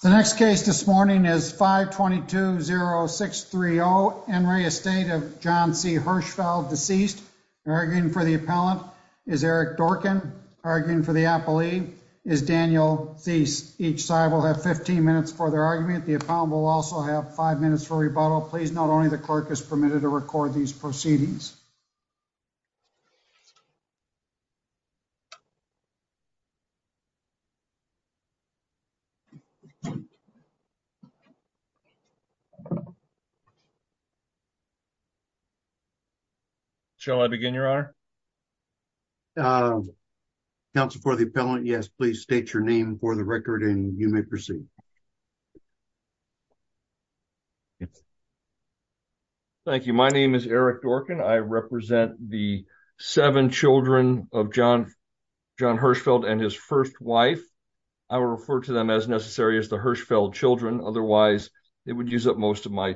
The next case this morning is 522-0630, Henry Estate of John C. Hirschfeld, deceased. Arguing for the appellant is Eric Dorkin. Arguing for the appellee is Daniel Thies. Each side will have 15 minutes for their argument. The appellant will also have 5 minutes for rebuttal. Please, not only the clerk, is permitted to record these proceedings. Shall I begin, Your Honor? Counsel, for the appellant, yes. Please state your name for the record and you may proceed. Thank you. My name is Eric Dorkin. I represent the seven children of John Hirschfeld and his first wife. I will refer to them as necessary as the Hirschfeld children, otherwise it would use up most of May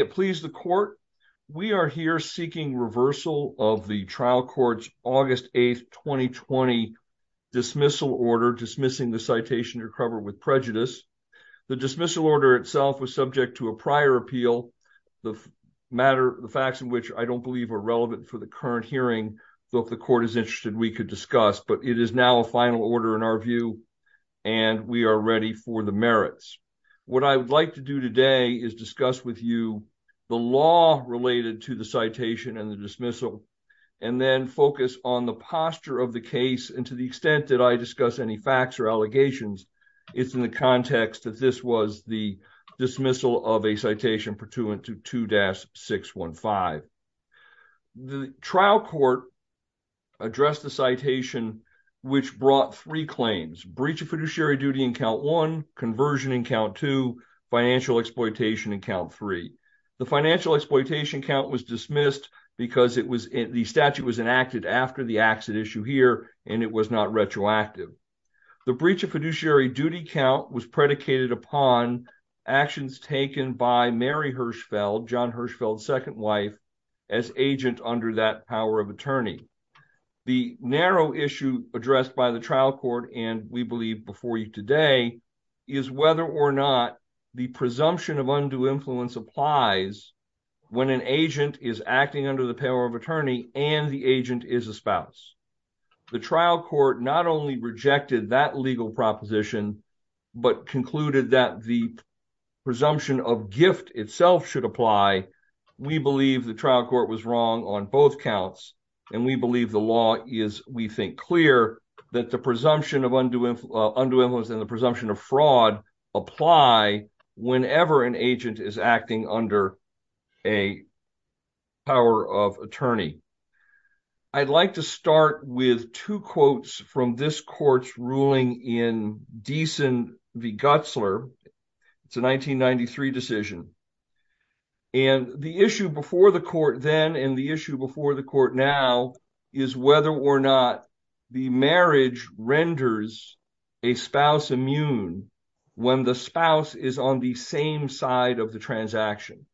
it please the court. We are here seeking reversal of the trial court's August 8, 2020, dismissal order, dismissing the citation recovered with prejudice. The dismissal order itself was subject to a prior appeal, the facts of which I don't believe are relevant for the current hearing, so if the court is interested, we could discuss, but it is now a final order in our view and we are ready for the merits. What I would like to do today is discuss with you the law related to the citation and the dismissal and then focus on the posture of the case and to the extent that I discuss any facts or allegations, it is in the context that this was the dismissal of a citation purtuant to 2-615. The trial court addressed the citation, which brought three claims, breach of fiduciary duty in count one, conversion in count two, financial exploitation in count three. The financial exploitation count was dismissed because the statute was enacted after the accident issue here and it was not retroactive. The breach of fiduciary duty count was predicated upon actions taken by Mary Hirschfeld, John Hirschfeld's second wife, as agent under that power of attorney. The narrow issue addressed by the trial court and we believe before you today is whether or not the presumption of undue influence applies when an agent is acting under the power of attorney and the agent is a spouse. The trial court not only rejected that legal proposition, but concluded that the presumption of gift itself should apply. We believe the trial court was wrong on both counts and we believe the law is, we think, clear that the presumption of undue influence and the presumption of fraud apply whenever an agent is acting under a power of attorney. I'd like to start with two quotes from this court's ruling in Deason v. Gutzler. It's a 1993 decision. The issue before the court then and the issue before the court now is whether or not the marriage renders a spouse immune when the spouse is on the same side of the transaction.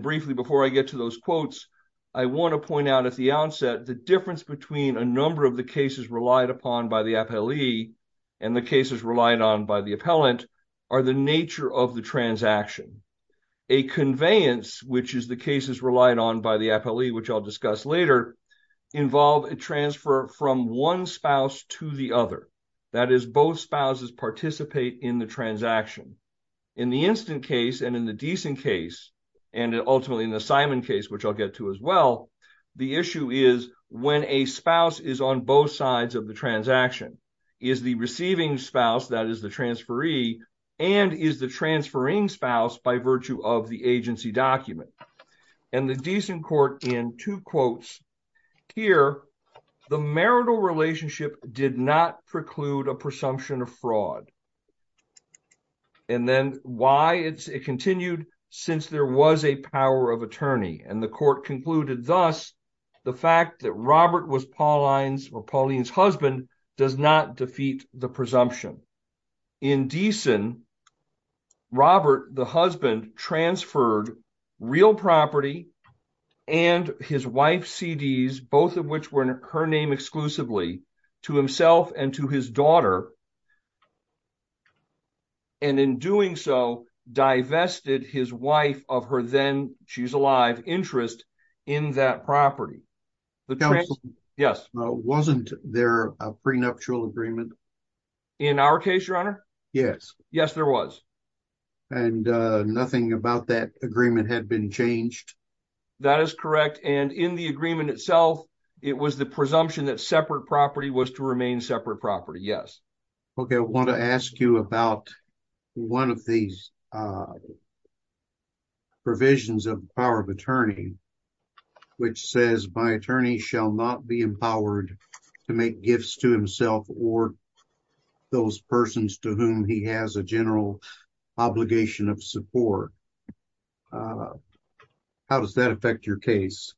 Briefly before I get to those quotes, I want to point out at the onset the difference between a number of the cases relied upon by the appellee and the cases relied on by the appellant are the nature of the transaction. A conveyance, which is the cases relied on by the appellee, which I'll discuss later, involve a transfer from one spouse to the other. That is, both spouses participate in the transaction. In the instant case and in the Deason case and ultimately in the Simon case, which I'll get to as well, the issue is when a spouse is on both sides of the transaction. Is the receiving spouse, that is the transferee, and is the transferring spouse by virtue of the agency document? And the Deason court in two quotes here, the marital relationship did not preclude a presumption of fraud. And then why it continued, since there was a power of attorney. And the court concluded thus, the fact that Robert was Pauline's husband does not defeat the presumption. In Deason, Robert, the husband, transferred real property and his wife's CDs, both of And in doing so, divested his wife of her then, she's alive, interest in that property. Yes. Wasn't there a prenuptial agreement? In our case, your honor? Yes. Yes, there was. And nothing about that agreement had been changed? That is correct. And in the agreement itself, it was the presumption that separate property was to remain separate property. Yes. Okay. I want to ask you about one of these provisions of power of attorney, which says my attorney shall not be empowered to make gifts to himself or those persons to whom he has a general obligation of support. How does that affect your case?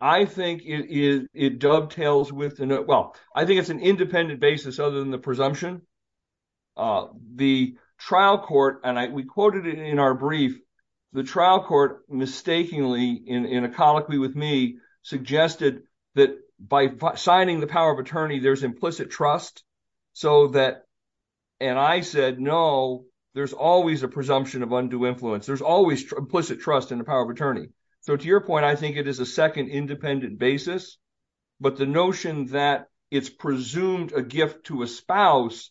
I think it dovetails with, well, I think it's an independent basis other than the presumption. The trial court, and we quoted it in our brief, the trial court mistakenly, in a colloquy with me, suggested that by signing the power of attorney, there's implicit trust. So that, and I said, no, there's always a presumption of undue influence. There's always implicit trust in the power of attorney. So to your point, I think it is a second independent basis. But the notion that it's presumed a gift to a spouse,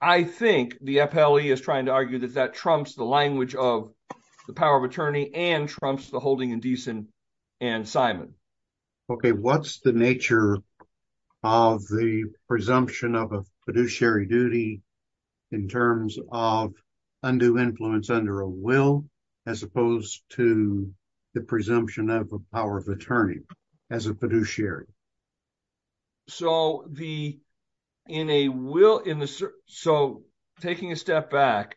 I think the FLE is trying to argue that that trumps the language of the power of attorney and trumps the holding indecent and Simon. Okay. What's the nature of the presumption of a fiduciary duty in terms of undue influence under a will, as opposed to the presumption of a power of attorney as a fiduciary? So the, in a will, in the, so taking a step back,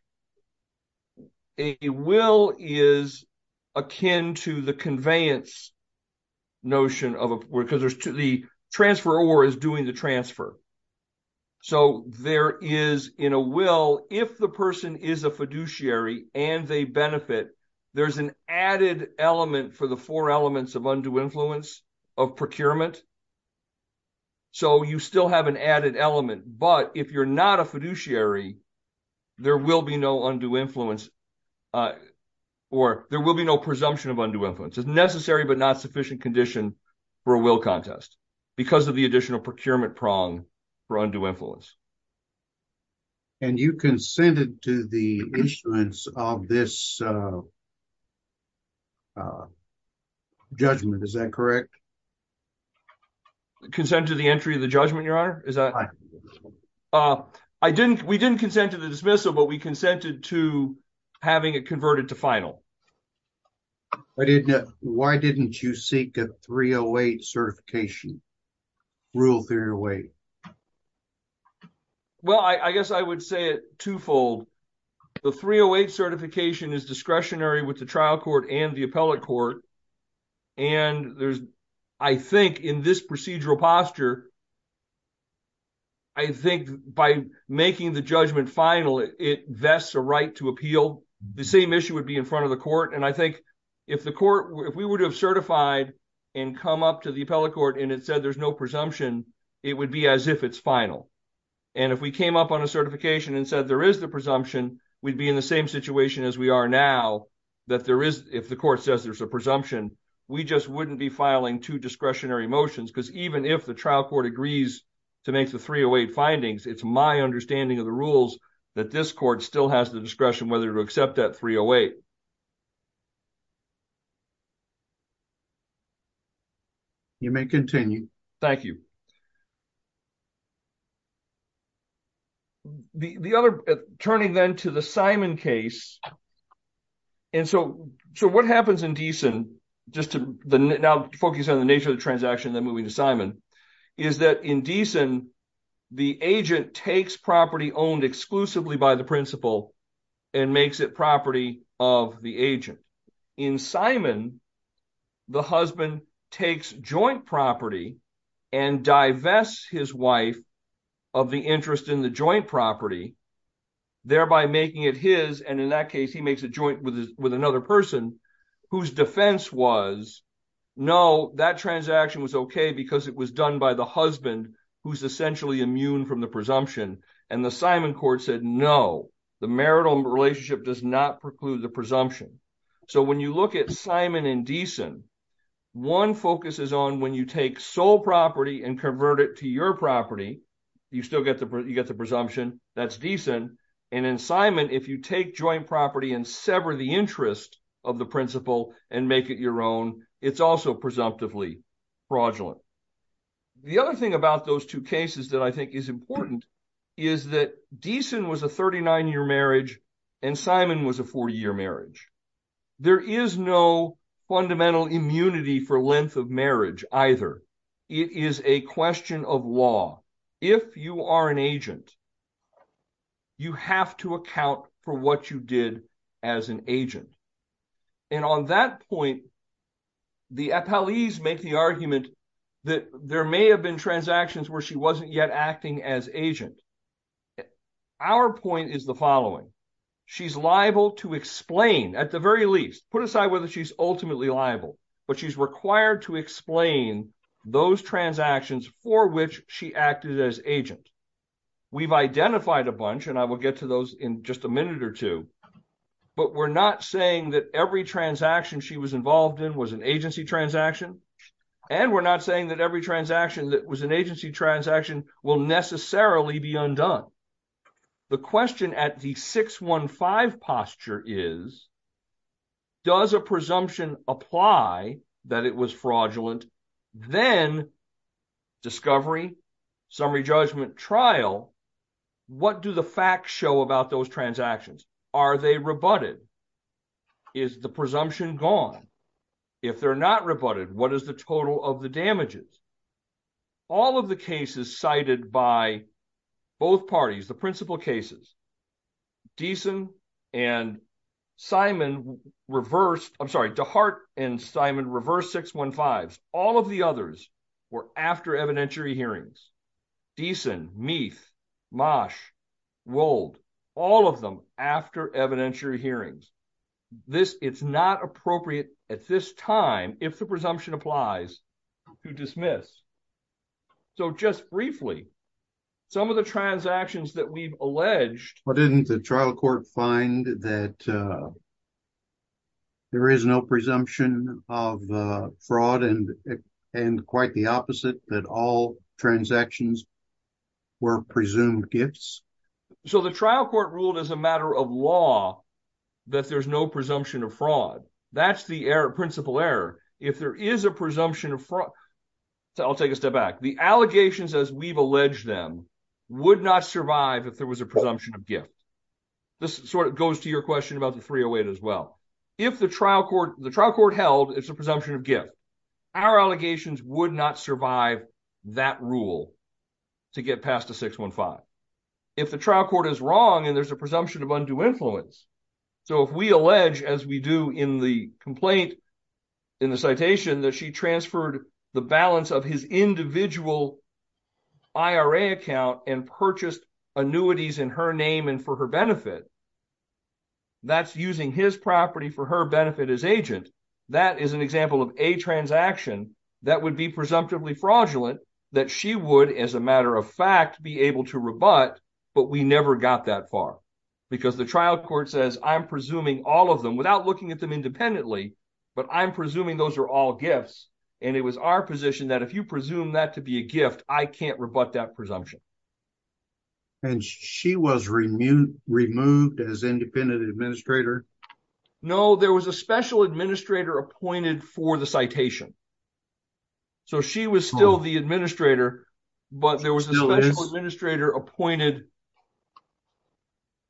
a will is akin to the conveyance notion of a, because there's the transfer or is doing the transfer. So there is in a will, if the person is a fiduciary and they benefit, there's an added element for the four elements of undue influence of procurement. So you still have an added element, but if you're not a fiduciary, there will be no undue influence or there will be no presumption of undue influence. It's necessary, but not sufficient condition for a will contest because of the additional procurement prong for undue influence. And you consented to the issuance of this judgment, is that correct? Consent to the entry of the judgment, your honor? I didn't, we didn't consent to the dismissal, but we consented to having it converted to final. I didn't, why didn't you seek a 308 certification, rule 308? Well I guess I would say it twofold. The 308 certification is discretionary with the trial court and the appellate court. And there's, I think in this procedural posture, I think by making the judgment final, it vests a right to appeal. The same issue would be in front of the court. And I think if the court, if we would have certified and come up to the appellate court and it said there's no presumption, it would be as if it's final. And if we came up on a certification and said there is the presumption, we'd be in the same situation as we are now, that there is, if the court says there's a presumption, we just wouldn't be filing two discretionary motions. Because even if the trial court agrees to make the 308 findings, it's my understanding of the rules that this court still has the discretion whether to accept that 308. You may continue. Thank you. The other, turning then to the Simon case, and so what happens in Deason, just to now focus on the nature of the transaction, then moving to Simon, is that in Deason, the agent takes property owned exclusively by the principal and makes it property of the agent. In Simon, the husband takes joint property and divests his wife of the interest in the joint property, thereby making it his, and in that case, he makes a joint with another person whose defense was, no, that transaction was okay because it was done by the husband who's essentially immune from the presumption, and the Simon court said, no, the marital relationship does not preclude the presumption. So when you look at Simon and Deason, one focus is on when you take sole property and convert it to your property, you still get the presumption, that's Deason, and in Simon, if you take joint property and sever the interest of the principal and make it your own, it's also presumptively fraudulent. The other thing about those two cases that I think is important is that Deason was a 39-year marriage and Simon was a 40-year marriage. There is no fundamental immunity for length of marriage either. It is a question of law. If you are an agent, you have to account for what you did as an agent, and on that point, the appellees make the argument that there may have been transactions where she wasn't yet acting as agent. Our point is the following. She's liable to explain, at the very least, put aside whether she's ultimately liable, but she's required to explain those transactions for which she acted as agent. We've identified a bunch, and I will get to those in just a minute or two, but we're saying that every transaction she was involved in was an agency transaction, and we're not saying that every transaction that was an agency transaction will necessarily be undone. The question at the 615 posture is, does a presumption apply that it was fraudulent? Then, discovery, summary judgment, trial, what do the facts show about those transactions? Are they rebutted? Is the presumption gone? If they're not rebutted, what is the total of the damages? All of the cases cited by both parties, the principal cases, Dehart and Simon reversed 615s. All of the others were after evidentiary hearings. Deason, Meath, Mosh, Wold, all of them after evidentiary hearings. It's not appropriate at this time, if the presumption applies, to dismiss. Just briefly, some of the transactions that we've alleged- But didn't the trial court find that there is no presumption of fraud and quite the opposite, that all transactions were presumed gifts? So the trial court ruled as a matter of law that there's no presumption of fraud. That's the principal error. If there is a presumption of fraud- I'll take a step back. The allegations as we've alleged them would not survive if there was a presumption of gift. This sort of goes to your question about the 308 as well. The trial court held it's a presumption of gift. Our allegations would not survive that rule to get past the 615. The trial court is wrong and there's a presumption of undue influence. So if we allege, as we do in the complaint, in the citation, that she transferred the balance of his individual IRA account and purchased annuities in her name and for her benefit, that's using his property for her benefit as agent. That is an example of a transaction that would be presumptively fraudulent that she would, as a matter of fact, be able to rebut, but we never got that far. Because the trial court says I'm presuming all of them without looking at them independently, but I'm presuming those are all gifts. And it was our position that if you presume that to be a gift, I can't rebut that presumption. And she was removed as independent administrator? No, there was a special administrator appointed for the citation. So she was still the administrator, but there was a special administrator appointed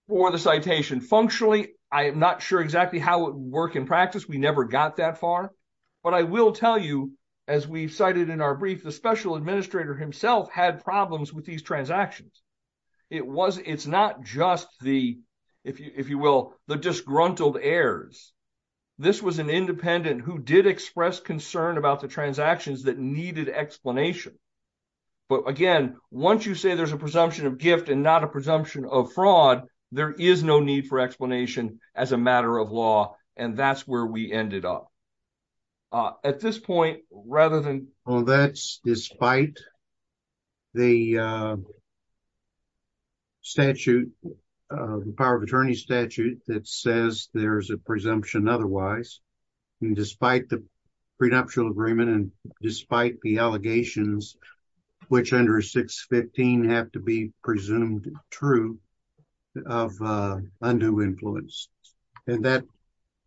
for the citation. Functionally, I am not sure exactly how it would work in practice. We never got that far. But I will tell you, as we cited in our brief, the special administrator himself had problems with these transactions. It's not just the, if you will, the disgruntled heirs. This was an independent who did express concern about the transactions that needed explanation. But again, once you say there's a presumption of gift and not a presumption of fraud, there is no need for explanation as a matter of law. And that's where we ended up. At this point, rather than... And that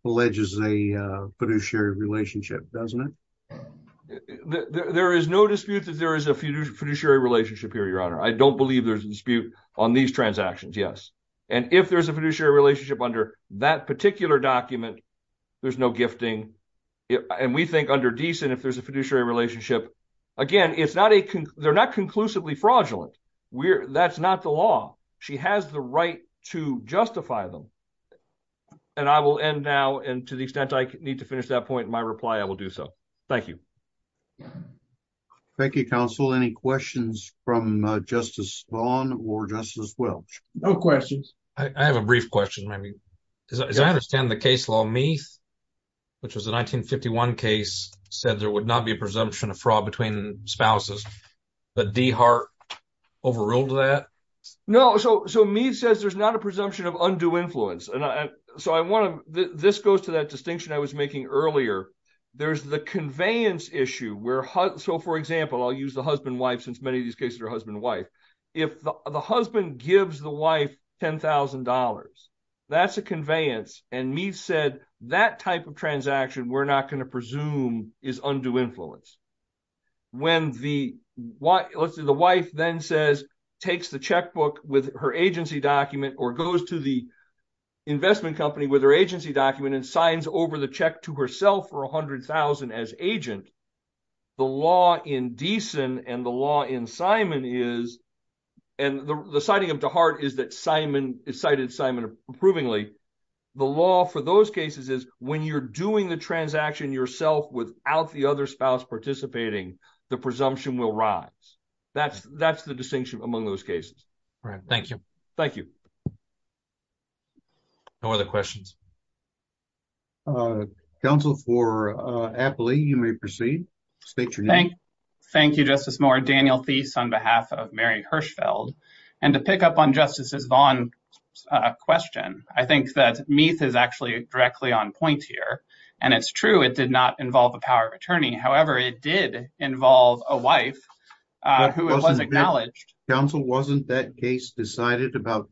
alleges a fiduciary relationship, doesn't it? There is no dispute that there is a fiduciary relationship here, Your Honor. I don't believe there's a dispute on these transactions, yes. And if there's a fiduciary relationship under that particular document, there's no gifting. And we think under Deeson, if there's a fiduciary relationship, again, they're not conclusively fraudulent. That's not the law. She has the right to justify them. And I will end now. And to the extent I need to finish that point in my reply, I will do so. Thank you. Thank you, counsel. Any questions from Justice Vaughn or Justice Welch? No questions. I have a brief question, maybe. As I understand the case law, Meath, which was a 1951 case, said there would not be a presumption of fraud between spouses. But Dehart overruled that? No, so Meath says there's not a presumption of undue influence. And so I want to... This goes to that distinction I was making earlier. There's the conveyance issue where... So, for example, I'll use the husband-wife, since many of these cases are husband-wife. If the husband gives the wife $10,000, that's a conveyance. And Meath said that type of transaction we're not going to presume is undue influence. When the wife then says, takes the checkbook with her agency document or goes to the investment company with her agency document and signs over the check to herself for $100,000 as agent, the law in Deason and the law in Simon is... And the citing of Dehart is that Simon... It cited Simon approvingly. The law for those cases is when you're doing the transaction yourself without the other spouse participating, the presumption will rise. That's the distinction among those cases. All right, thank you. Thank you. No other questions? Counsel for Apley, you may proceed. State your name. Thank you, Justice Moore. Daniel Theis on behalf of Mary Hirschfeld. And to pick up on Justice Zvon's question, I think that Meath is actually directly on point here. And it's true, it did not involve a power of attorney. However, it did involve a wife who was acknowledged. Counsel, wasn't that case decided about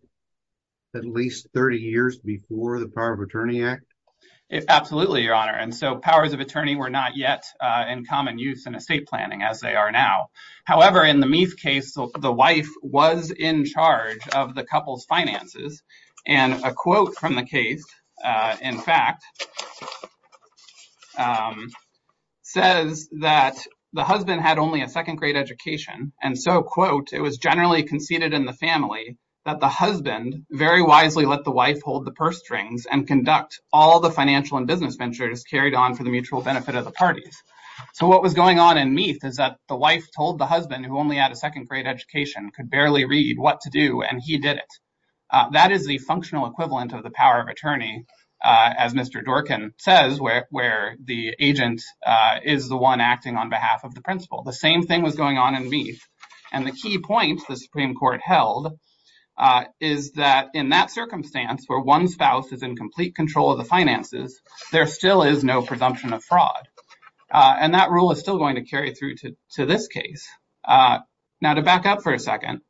at least 30 years before the Power of Attorney Act? Absolutely, Your Honor. And so powers of attorney were not yet in common use in estate planning as they are now. However, in the Meath case, the wife was in charge of the couple's finances. And a quote from the case, in fact, says that the husband had only a second grade education. And so, quote, it was generally conceded in the family that the husband very wisely let the wife hold the purse strings and conduct all the financial and business ventures carried on for the mutual benefit of the parties. So what was going on in Meath is that the wife told the husband who only had a second grade education could barely read what to do, and he did it. That is the functional equivalent of the power of attorney, as Mr. Dworkin says, where the agent is the one acting on behalf of the principal. The same thing was going on in Meath. And the key point the Supreme Court held is that in that circumstance where one spouse is in complete control of the finances, there still is no presumption of fraud. And that rule is still going to carry through to this case. Now, to back up for a second.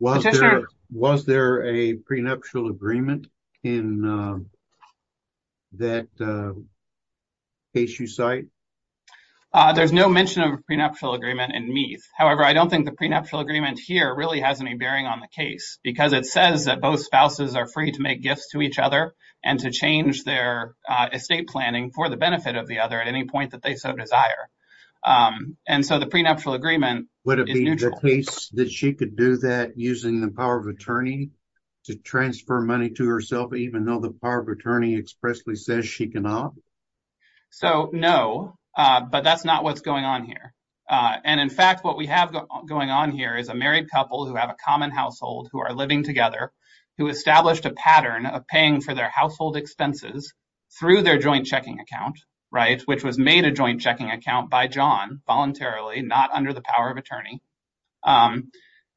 Was there a prenuptial agreement in that case you cite? However, I don't think the prenuptial agreement here really has any bearing on the case, because it says that both spouses are free to make gifts to each other and to change their estate planning for the benefit of the other at any point that they so desire. And so the prenuptial agreement- Would it be the case that she could do that using the power of attorney to transfer money to herself, even though the power of attorney expressly says she cannot? So, no, but that's not what's going on here. And in fact, what we have going on here is a married couple who have a common household, who are living together, who established a pattern of paying for their household expenses through their joint checking account, right? Which was made a joint checking account by John voluntarily, not under the power of attorney.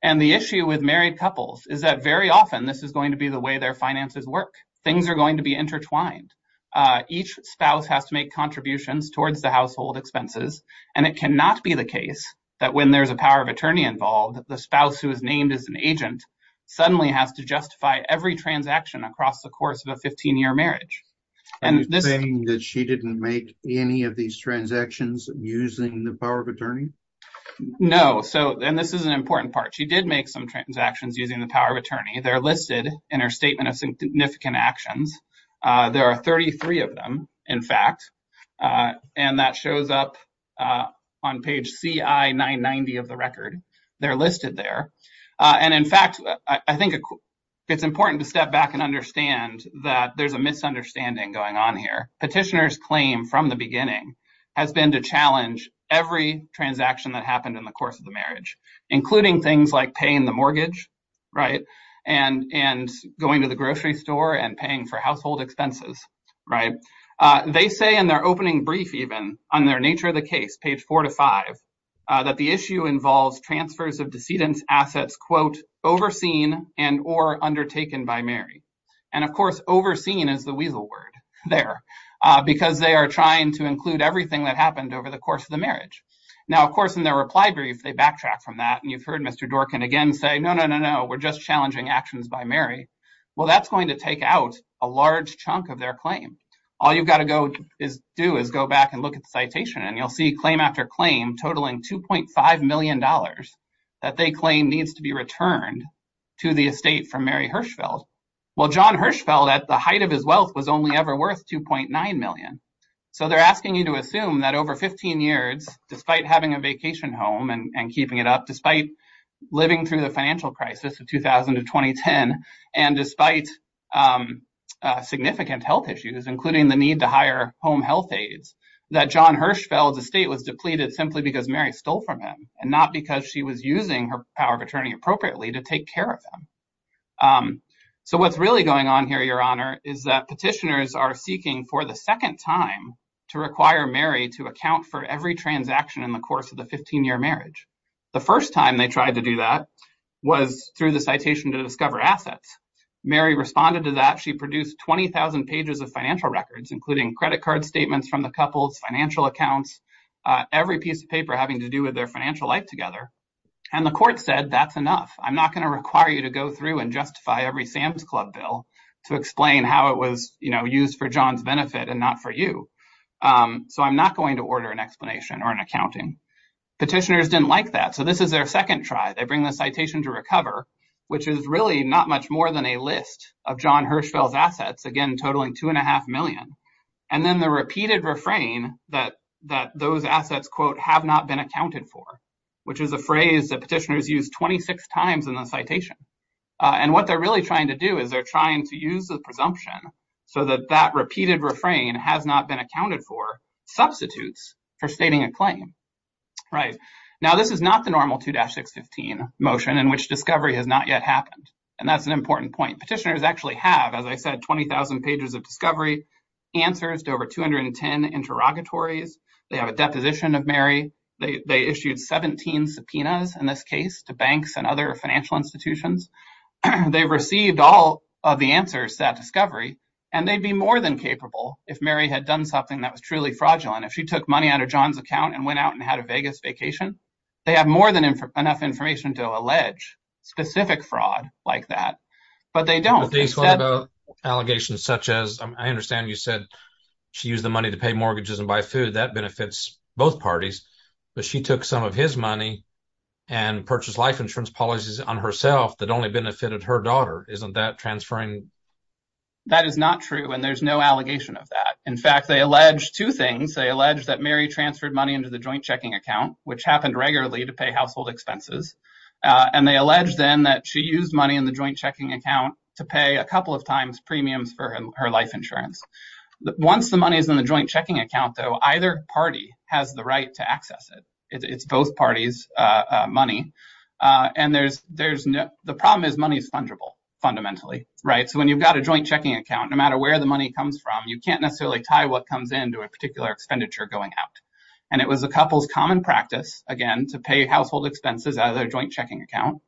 And the issue with married couples is that very often this is going to be the way their finances work. Things are going to be intertwined. Each spouse has to make contributions towards the household expenses and it cannot be the case that when there's a power of attorney involved, the spouse who is named as an agent suddenly has to justify every transaction across the course of a 15-year marriage. Are you saying that she didn't make any of these transactions using the power of attorney? No, and this is an important part. She did make some transactions using the power of attorney. They're listed in her statement of significant actions. There are 33 of them, in fact, and that shows up on page CI-990 of the record. They're listed there. And in fact, I think it's important to step back and understand that there's a misunderstanding going on here. Petitioner's claim from the beginning has been to challenge every transaction that happened in the course of the marriage, including things like paying the mortgage, right? And going to the grocery store and paying for household expenses, right? They say in their opening brief, even, on their nature of the case, page four to five, that the issue involves transfers of decedent's assets, quote, overseen and or undertaken by Mary. And of course, overseen is the weasel word there because they are trying to include everything that happened over the course of the marriage. Now, of course, in their reply brief, they backtrack from that. And you've heard Mr. Dworkin again say, no, no, no, no, we're just challenging actions by Mary. Well, that's going to take out a large chunk of their claim. All you've got to do is go back and look at the citation and you'll see claim after claim totaling $2.5 million that they claim needs to be returned to the estate from Mary Hirschfeld. Well, John Hirschfeld at the height of his wealth was only ever worth 2.9 million. So they're asking you to assume that over 15 years, despite having a vacation home and keeping it up, despite living through the financial crisis of 2000 to 2010, and despite significant health issues including the need to hire home health aides, that John Hirschfeld's estate was depleted simply because Mary stole from him and not because she was using her power of attorney appropriately to take care of him. So what's really going on here, Your Honor, is that petitioners are seeking for the second time to require Mary to account for every transaction in the course of the 15-year marriage. The first time they tried to do that was through the citation to discover assets. Mary responded to that. She produced 20,000 pages of financial records, including credit card statements from the couples, financial accounts, every piece of paper having to do with their financial life together. And the court said, that's enough. I'm not going to require you to go through and justify every Sam's Club bill to explain how it was used for John's benefit and not for you. So I'm not going to order an explanation or an accounting. Petitioners didn't like that. So this is their second try. They bring the citation to recover, which is really not much more than a list of John Hirschfeld's assets, again, totaling two and a half million. And then the repeated refrain that those assets, quote, have not been accounted for, which is a phrase that petitioners use 26 times in the citation. And what they're really trying to do is they're trying to use the presumption so that that repeated refrain has not been accounted for substitutes for stating a claim, right? Now, this is not the normal 2-615 motion in which discovery has not yet happened. And that's an important point. Petitioners actually have, as I said, 20,000 pages of discovery, answers to over 210 interrogatories. They have a deposition of Mary. They issued 17 subpoenas in this case to banks and other financial institutions. They've received all of the answers to that discovery. And they'd be more than capable if Mary had done something that was truly fraudulent. If she took money out of John's account and went out and had a Vegas vacation, they have more than enough information to allege specific fraud like that. But they don't. But these allegations such as, I understand you said she used the money to pay mortgages and buy food. That benefits both parties. But she took some of his money and purchased life insurance policies on herself that only benefited her daughter. Isn't that transferring? That is not true. And there's no allegation of that. In fact, they allege two things. They allege that Mary transferred money into the joint checking account, which happened regularly to pay household expenses. And they allege then that she used money in the joint checking account to pay a couple of times premiums for her life insurance. Once the money is in the joint checking account though, either party has the right to access it. It's both parties' money. And the problem is money is fungible fundamentally, right? So when you've got a joint checking account, no matter where the money comes from, you can't necessarily tie what comes in to a particular expenditure going out. And it was a couple's common practice, again, to pay household expenses out of their joint checking account.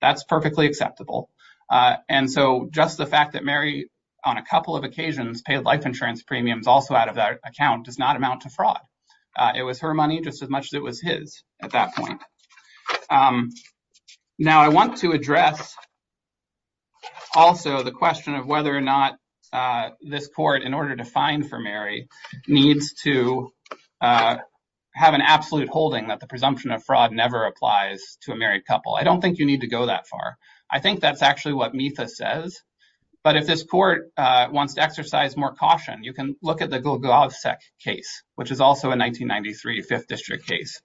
That's perfectly acceptable. And so just the fact that Mary on a couple of occasions paid life insurance premiums also out of that account does not amount to fraud. It was her money just as much as it was his at that point. Now, I want to address also the question of whether or not this court, in order to find for Mary, needs to have an absolute holding that the presumption of fraud never applies to a married couple. I don't think you need to go that far. I think that's actually what Metha says. But if this court wants to exercise more caution, you can look at the Golgovsek case, which is also a 1993 Fifth District case.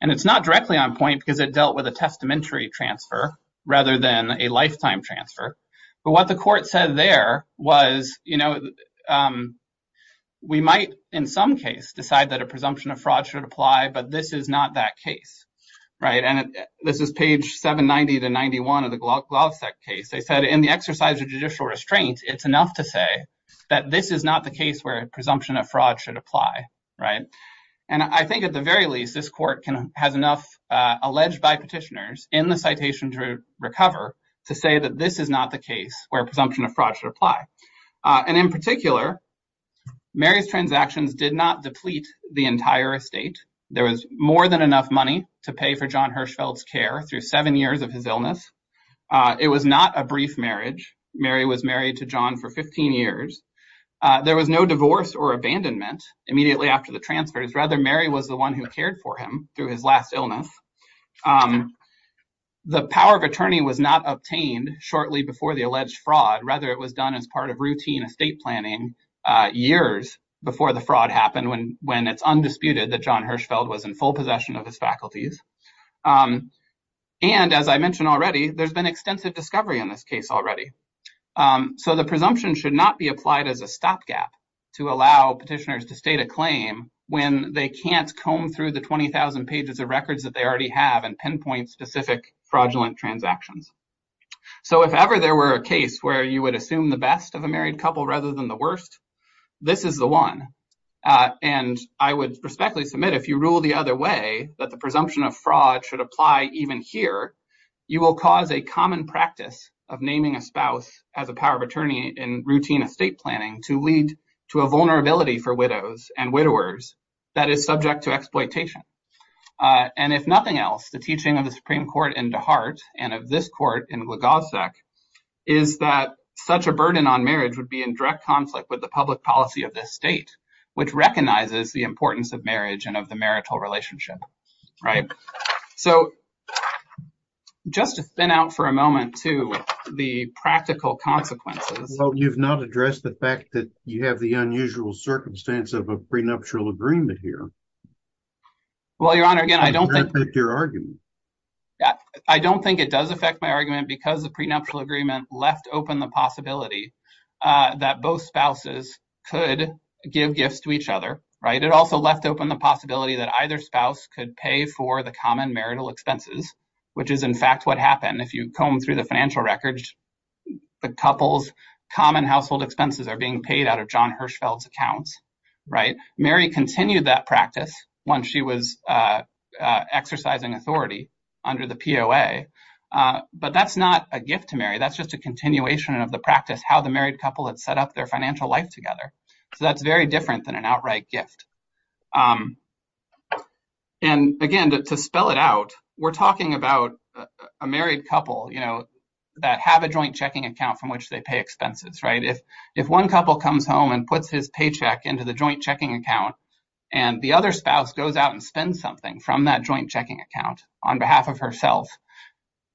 And it's not directly on point because it dealt with a testamentary transfer rather than a lifetime transfer. But what the court said there was, we might in some case decide that a presumption of fraud should apply, but this is not that case, right? This is page 790 to 91 of the Golgovsek case. They said, in the exercise of judicial restraint, it's enough to say that this is not the case where a presumption of fraud should apply, right? And I think at the very least, this court has enough alleged by petitioners in the citation to recover to say that this is not the case where a presumption of fraud should apply. And in particular, Mary's transactions did not deplete the entire estate. There was more than enough money to pay for John Hirschfeld's care through seven years of his illness. It was not a brief marriage. Mary was married to John for 15 years. There was no divorce or abandonment immediately after the transfers. Rather, Mary was the one who cared for him through his last illness. The power of attorney was not obtained shortly before the alleged fraud. Rather, it was done as part of routine estate planning years before the fraud happened when it's undisputed that John Hirschfeld was in full possession of his faculties. And as I mentioned already, there's been extensive discovery in this case already. So the presumption should not be applied as a stopgap to allow petitioners to state a claim when they can't comb through the 20,000 pages of records that they already have and pinpoint specific fraudulent transactions. So if ever there were a case where you would assume the best of a married couple rather than the worst, this is the one. And I would respectfully submit if you rule the other way that the presumption of fraud should apply even here, you will cause a common practice of naming a spouse as a power of attorney in routine estate planning to lead to a vulnerability for widows and widowers that is subject to exploitation. And if nothing else, the teaching of the Supreme Court in DeHart and of this court in Wlodzowcek is that such a burden on marriage would be in direct conflict with the public policy of this state, which recognizes the importance of marriage and of the marital relationship, right? So just to spin out for a moment to the practical consequences. Well, you've not addressed the fact that you have the unusual circumstance of a prenuptial agreement here. Well, Your Honor, again, I don't think- Does that affect your argument? I don't think it does affect my argument because the prenuptial agreement left open the possibility that both spouses could give gifts to each other, right? It also left open the possibility that either spouse could pay for the common marital expenses, which is in fact what happened if you combed through the financial records, the couple's common household expenses are being paid out of John Hirschfeld's accounts, right? Mary continued that practice once she was exercising authority under the POA, but that's not a gift to Mary. That's just a continuation of the practice, how the married couple had set up their financial life together. So that's very different than an outright gift. And again, to spell it out, we're talking about a married couple that have a joint checking account from which they pay expenses, right? If one couple comes home and puts his paycheck into the joint checking account and the other spouse goes out and spends something from that joint checking account on behalf of herself,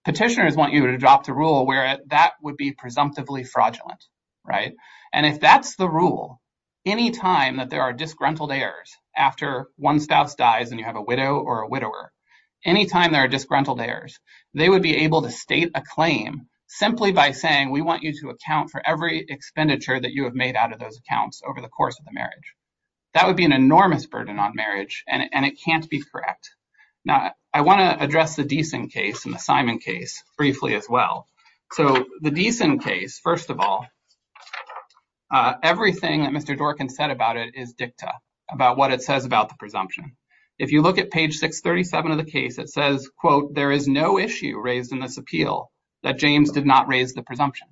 petitioners want you to drop the rule where that would be presumptively fraudulent, right? And if that's the rule, anytime that there are disgruntled heirs after one spouse dies and you have a widow or a widower, anytime there are disgruntled heirs, they would be able to state a claim simply by saying, we want you to account for every expenditure that you have made out of those accounts over the course of the marriage. That would be an enormous burden on marriage and it can't be correct. Now, I wanna address the Deason case and the Simon case briefly as well. So the Deason case, first of all, everything that Mr. Dworkin said about it is dicta about what it says about the presumption. If you look at page 637 of the case, it says, quote, there is no issue raised in this appeal that James did not raise the presumption.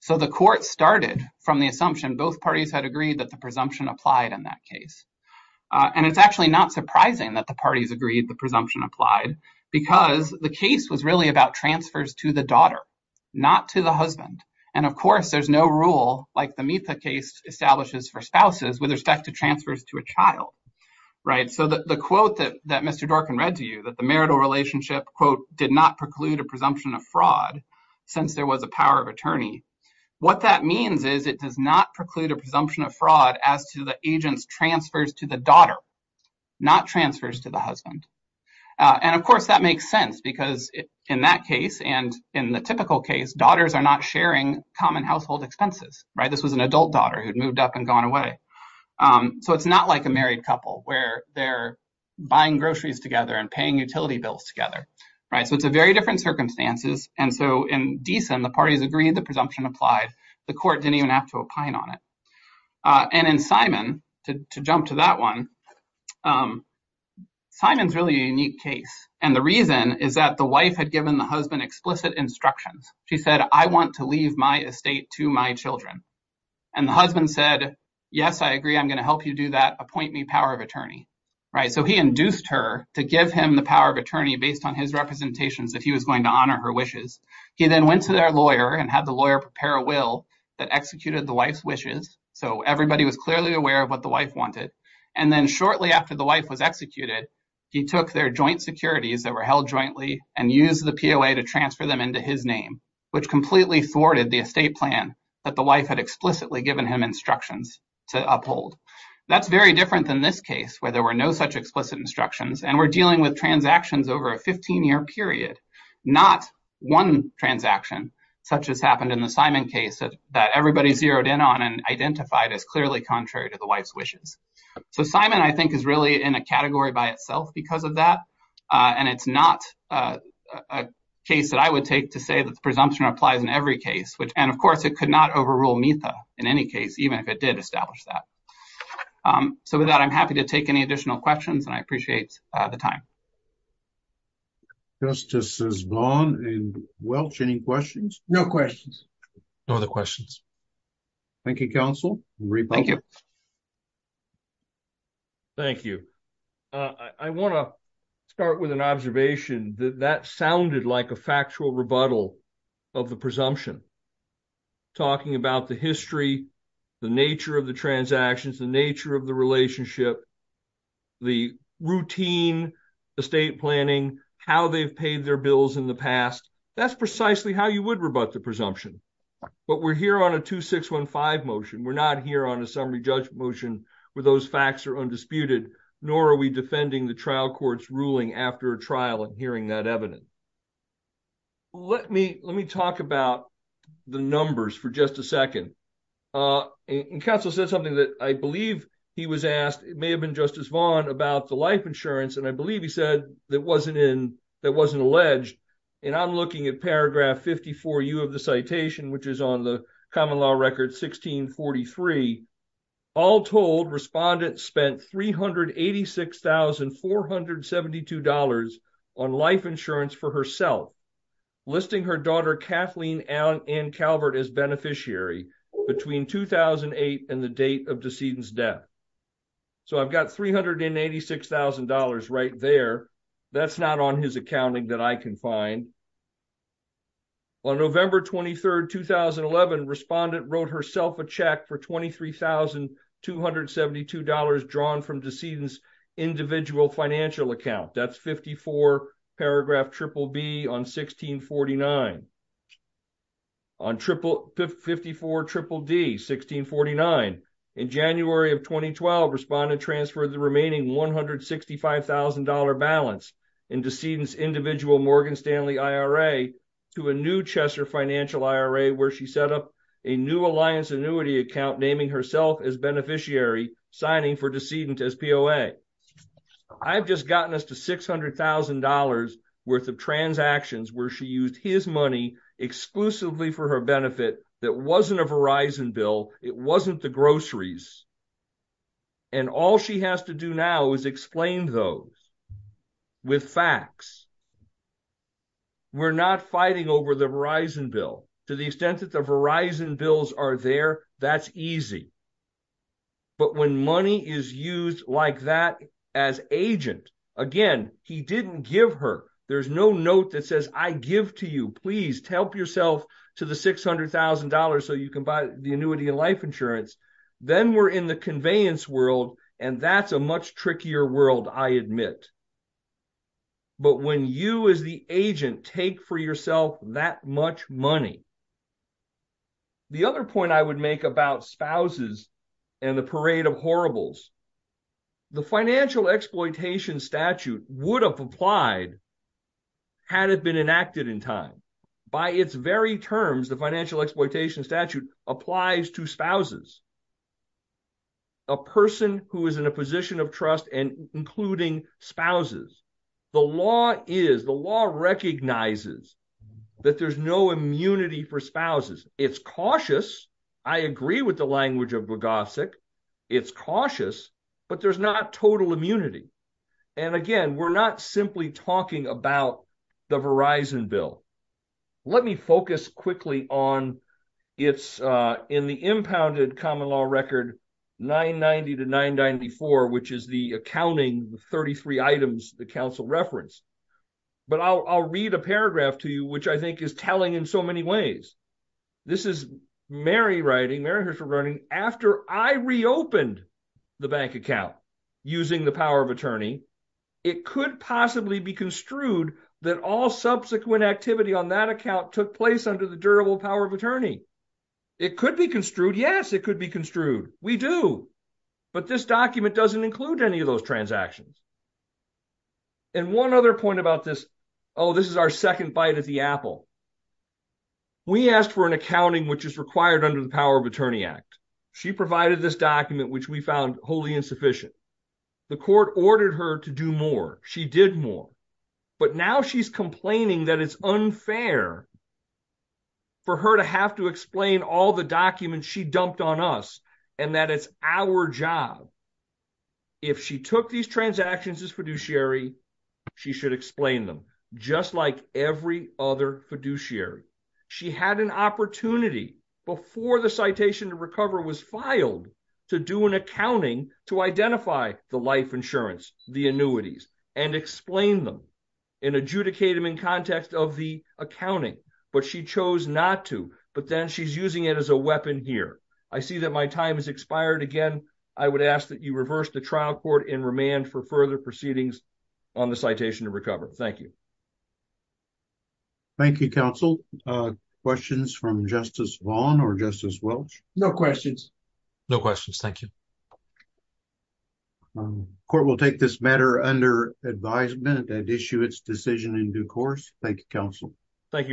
So the court started from the assumption both parties had agreed that the presumption applied in that case. And it's actually not surprising that the parties agreed the presumption applied because the case was really about transfers to the daughter, not to the husband. And of course, there's no rule like the Mita case establishes for spouses with respect to transfers to a child, right? So the quote that Mr. Dworkin read to you, that the marital relationship, quote, did not preclude a presumption of fraud since there was a power of attorney. What that means is it does not preclude a presumption of fraud as to the agent's transfers to the daughter, not transfers to the husband. And of course, that makes sense because in that case and in the typical case, daughters are not sharing common household expenses, right? This was an adult daughter who'd moved up and gone away. So it's not like a married couple where they're buying groceries together and paying utility bills together, right? So it's a very different circumstances. And so in Deason, the parties agreed the presumption applied. The court didn't even have to opine on it. And in Simon, to jump to that one, Simon's really a unique case. And the reason is that the wife had given the husband explicit instructions. She said, I want to leave my estate to my children. And the husband said, yes, I agree. I'm going to help you do that. Appoint me power of attorney, right? So he induced her to give him the power of attorney based on his representations that he was going to honor her wishes. He then went to their lawyer and had the lawyer prepare a will that executed the wife's wishes. So everybody was clearly aware of what the wife wanted. And then shortly after the wife was executed, he took their joint securities that were held jointly and used the POA to transfer them into his name, which completely thwarted the estate plan that the wife had explicitly given him instructions to uphold. That's very different than this case where there were no such explicit instructions. And we're dealing with transactions over a 15-year period, not one transaction such as happened in the Simon case that everybody zeroed in on and identified as clearly contrary to the wife's wishes. So Simon, I think, is really in a category by itself because of that. And it's not a case that I would take to say that the presumption applies in every case, which, and of course, it could not overrule META in any case, even if it did establish that. So with that, I'm happy to take any additional questions and I appreciate the time. Justice Zvon and Welch, any questions? No questions. No other questions. Thank you, counsel. Thank you. Thank you. I want to start with an observation that that sounded like a factual rebuttal of the presumption, talking about the history, the nature of the transactions, the nature of the relationship, the routine, the state planning, how they've paid their bills in the past. That's precisely how you would rebut the presumption. But we're here on a 2615 motion. We're not here on a summary judgment motion where those facts are undisputed, nor are we defending the trial court's ruling after a trial and hearing that evidence. Let me talk about the numbers for just a second. And counsel said something that I believe he was asked, it may have been Justice Zvon, about the life insurance. And I believe he said that wasn't in, that wasn't alleged. And I'm looking at paragraph 54U of the citation, which is on the common law record 1643. All told, respondent spent $386,472 on life insurance for herself, listing her daughter, Kathleen Ann Calvert as beneficiary between 2008 and the date of decedent's death. So I've got $386,000 right there. That's not on his accounting that I can find. On November 23rd, 2011, respondent wrote herself a check for $23,272 drawn from decedent's individual financial account. That's 54 paragraph triple B on 1649. On 54 triple D, 1649. In January of 2012, respondent transferred the remaining $165,000 balance in decedent's individual Morgan Stanley IRA to a new Chesser Financial IRA where she set up a new Alliance annuity account, naming herself as beneficiary, signing for decedent as POA. I've just gotten us to $600,000 worth of transactions where she used his money exclusively for her benefit that wasn't a Verizon bill. It wasn't the groceries. And all she has to do now is explain those with facts. We're not fighting over the Verizon bill to the extent that the Verizon bills are there, that's easy. But when money is used like that as agent, again, he didn't give her. There's no note that says, I give to you, please help yourself to the $600,000 so you can buy the annuity and life insurance. Then we're in the conveyance world, and that's a much trickier world, I admit. But when you as the agent take for yourself that much money, the other point I would make about spouses and the parade of horribles, the financial exploitation statute would have applied had it been enacted in time. By its very terms, the financial exploitation statute applies to spouses, a person who is in a position of trust and including spouses. The law is, the law recognizes that there's no immunity for spouses. It's cautious. I agree with the language of Bogosik. It's cautious, but there's not total immunity. And again, we're not simply talking about the Verizon bill. Let me focus quickly on, it's in the impounded common law record 990 to 994, which is the accounting 33 items the council referenced. But I'll read a paragraph to you, which I think is telling in so many ways. This is Mary writing, Mary Hirschberg writing, after I reopened the bank account using the power of attorney, it could possibly be construed that all subsequent activity on that account took place under the durable power of attorney. It could be construed. Yes, it could be construed. We do. But this document doesn't include any of those transactions. And one other point about this, oh, this is our second bite at the apple. We asked for an accounting which is required under the Power of Attorney Act. She provided this document, which we found wholly insufficient. The court ordered her to do more. She did more. But now she's complaining that it's unfair for her to have to explain all the documents she dumped on us and that it's our job. If she took these transactions as fiduciary, she should explain them. Just like every other fiduciary. She had an opportunity before the citation to recover was filed to do an accounting to identify the life insurance, the annuities, and explain them and adjudicate them in context of the accounting. But she chose not to. But then she's using it as a weapon here. I see that my time has expired again. I would ask that you reverse the trial court in remand for further proceedings on the citation to recover. Thank you. Thank you, counsel. Questions from Justice Vaughn or Justice Welch? No questions. No questions. Thank you. Court will take this matter under advisement and issue its decision in due course. Thank you, counsel. Thank you.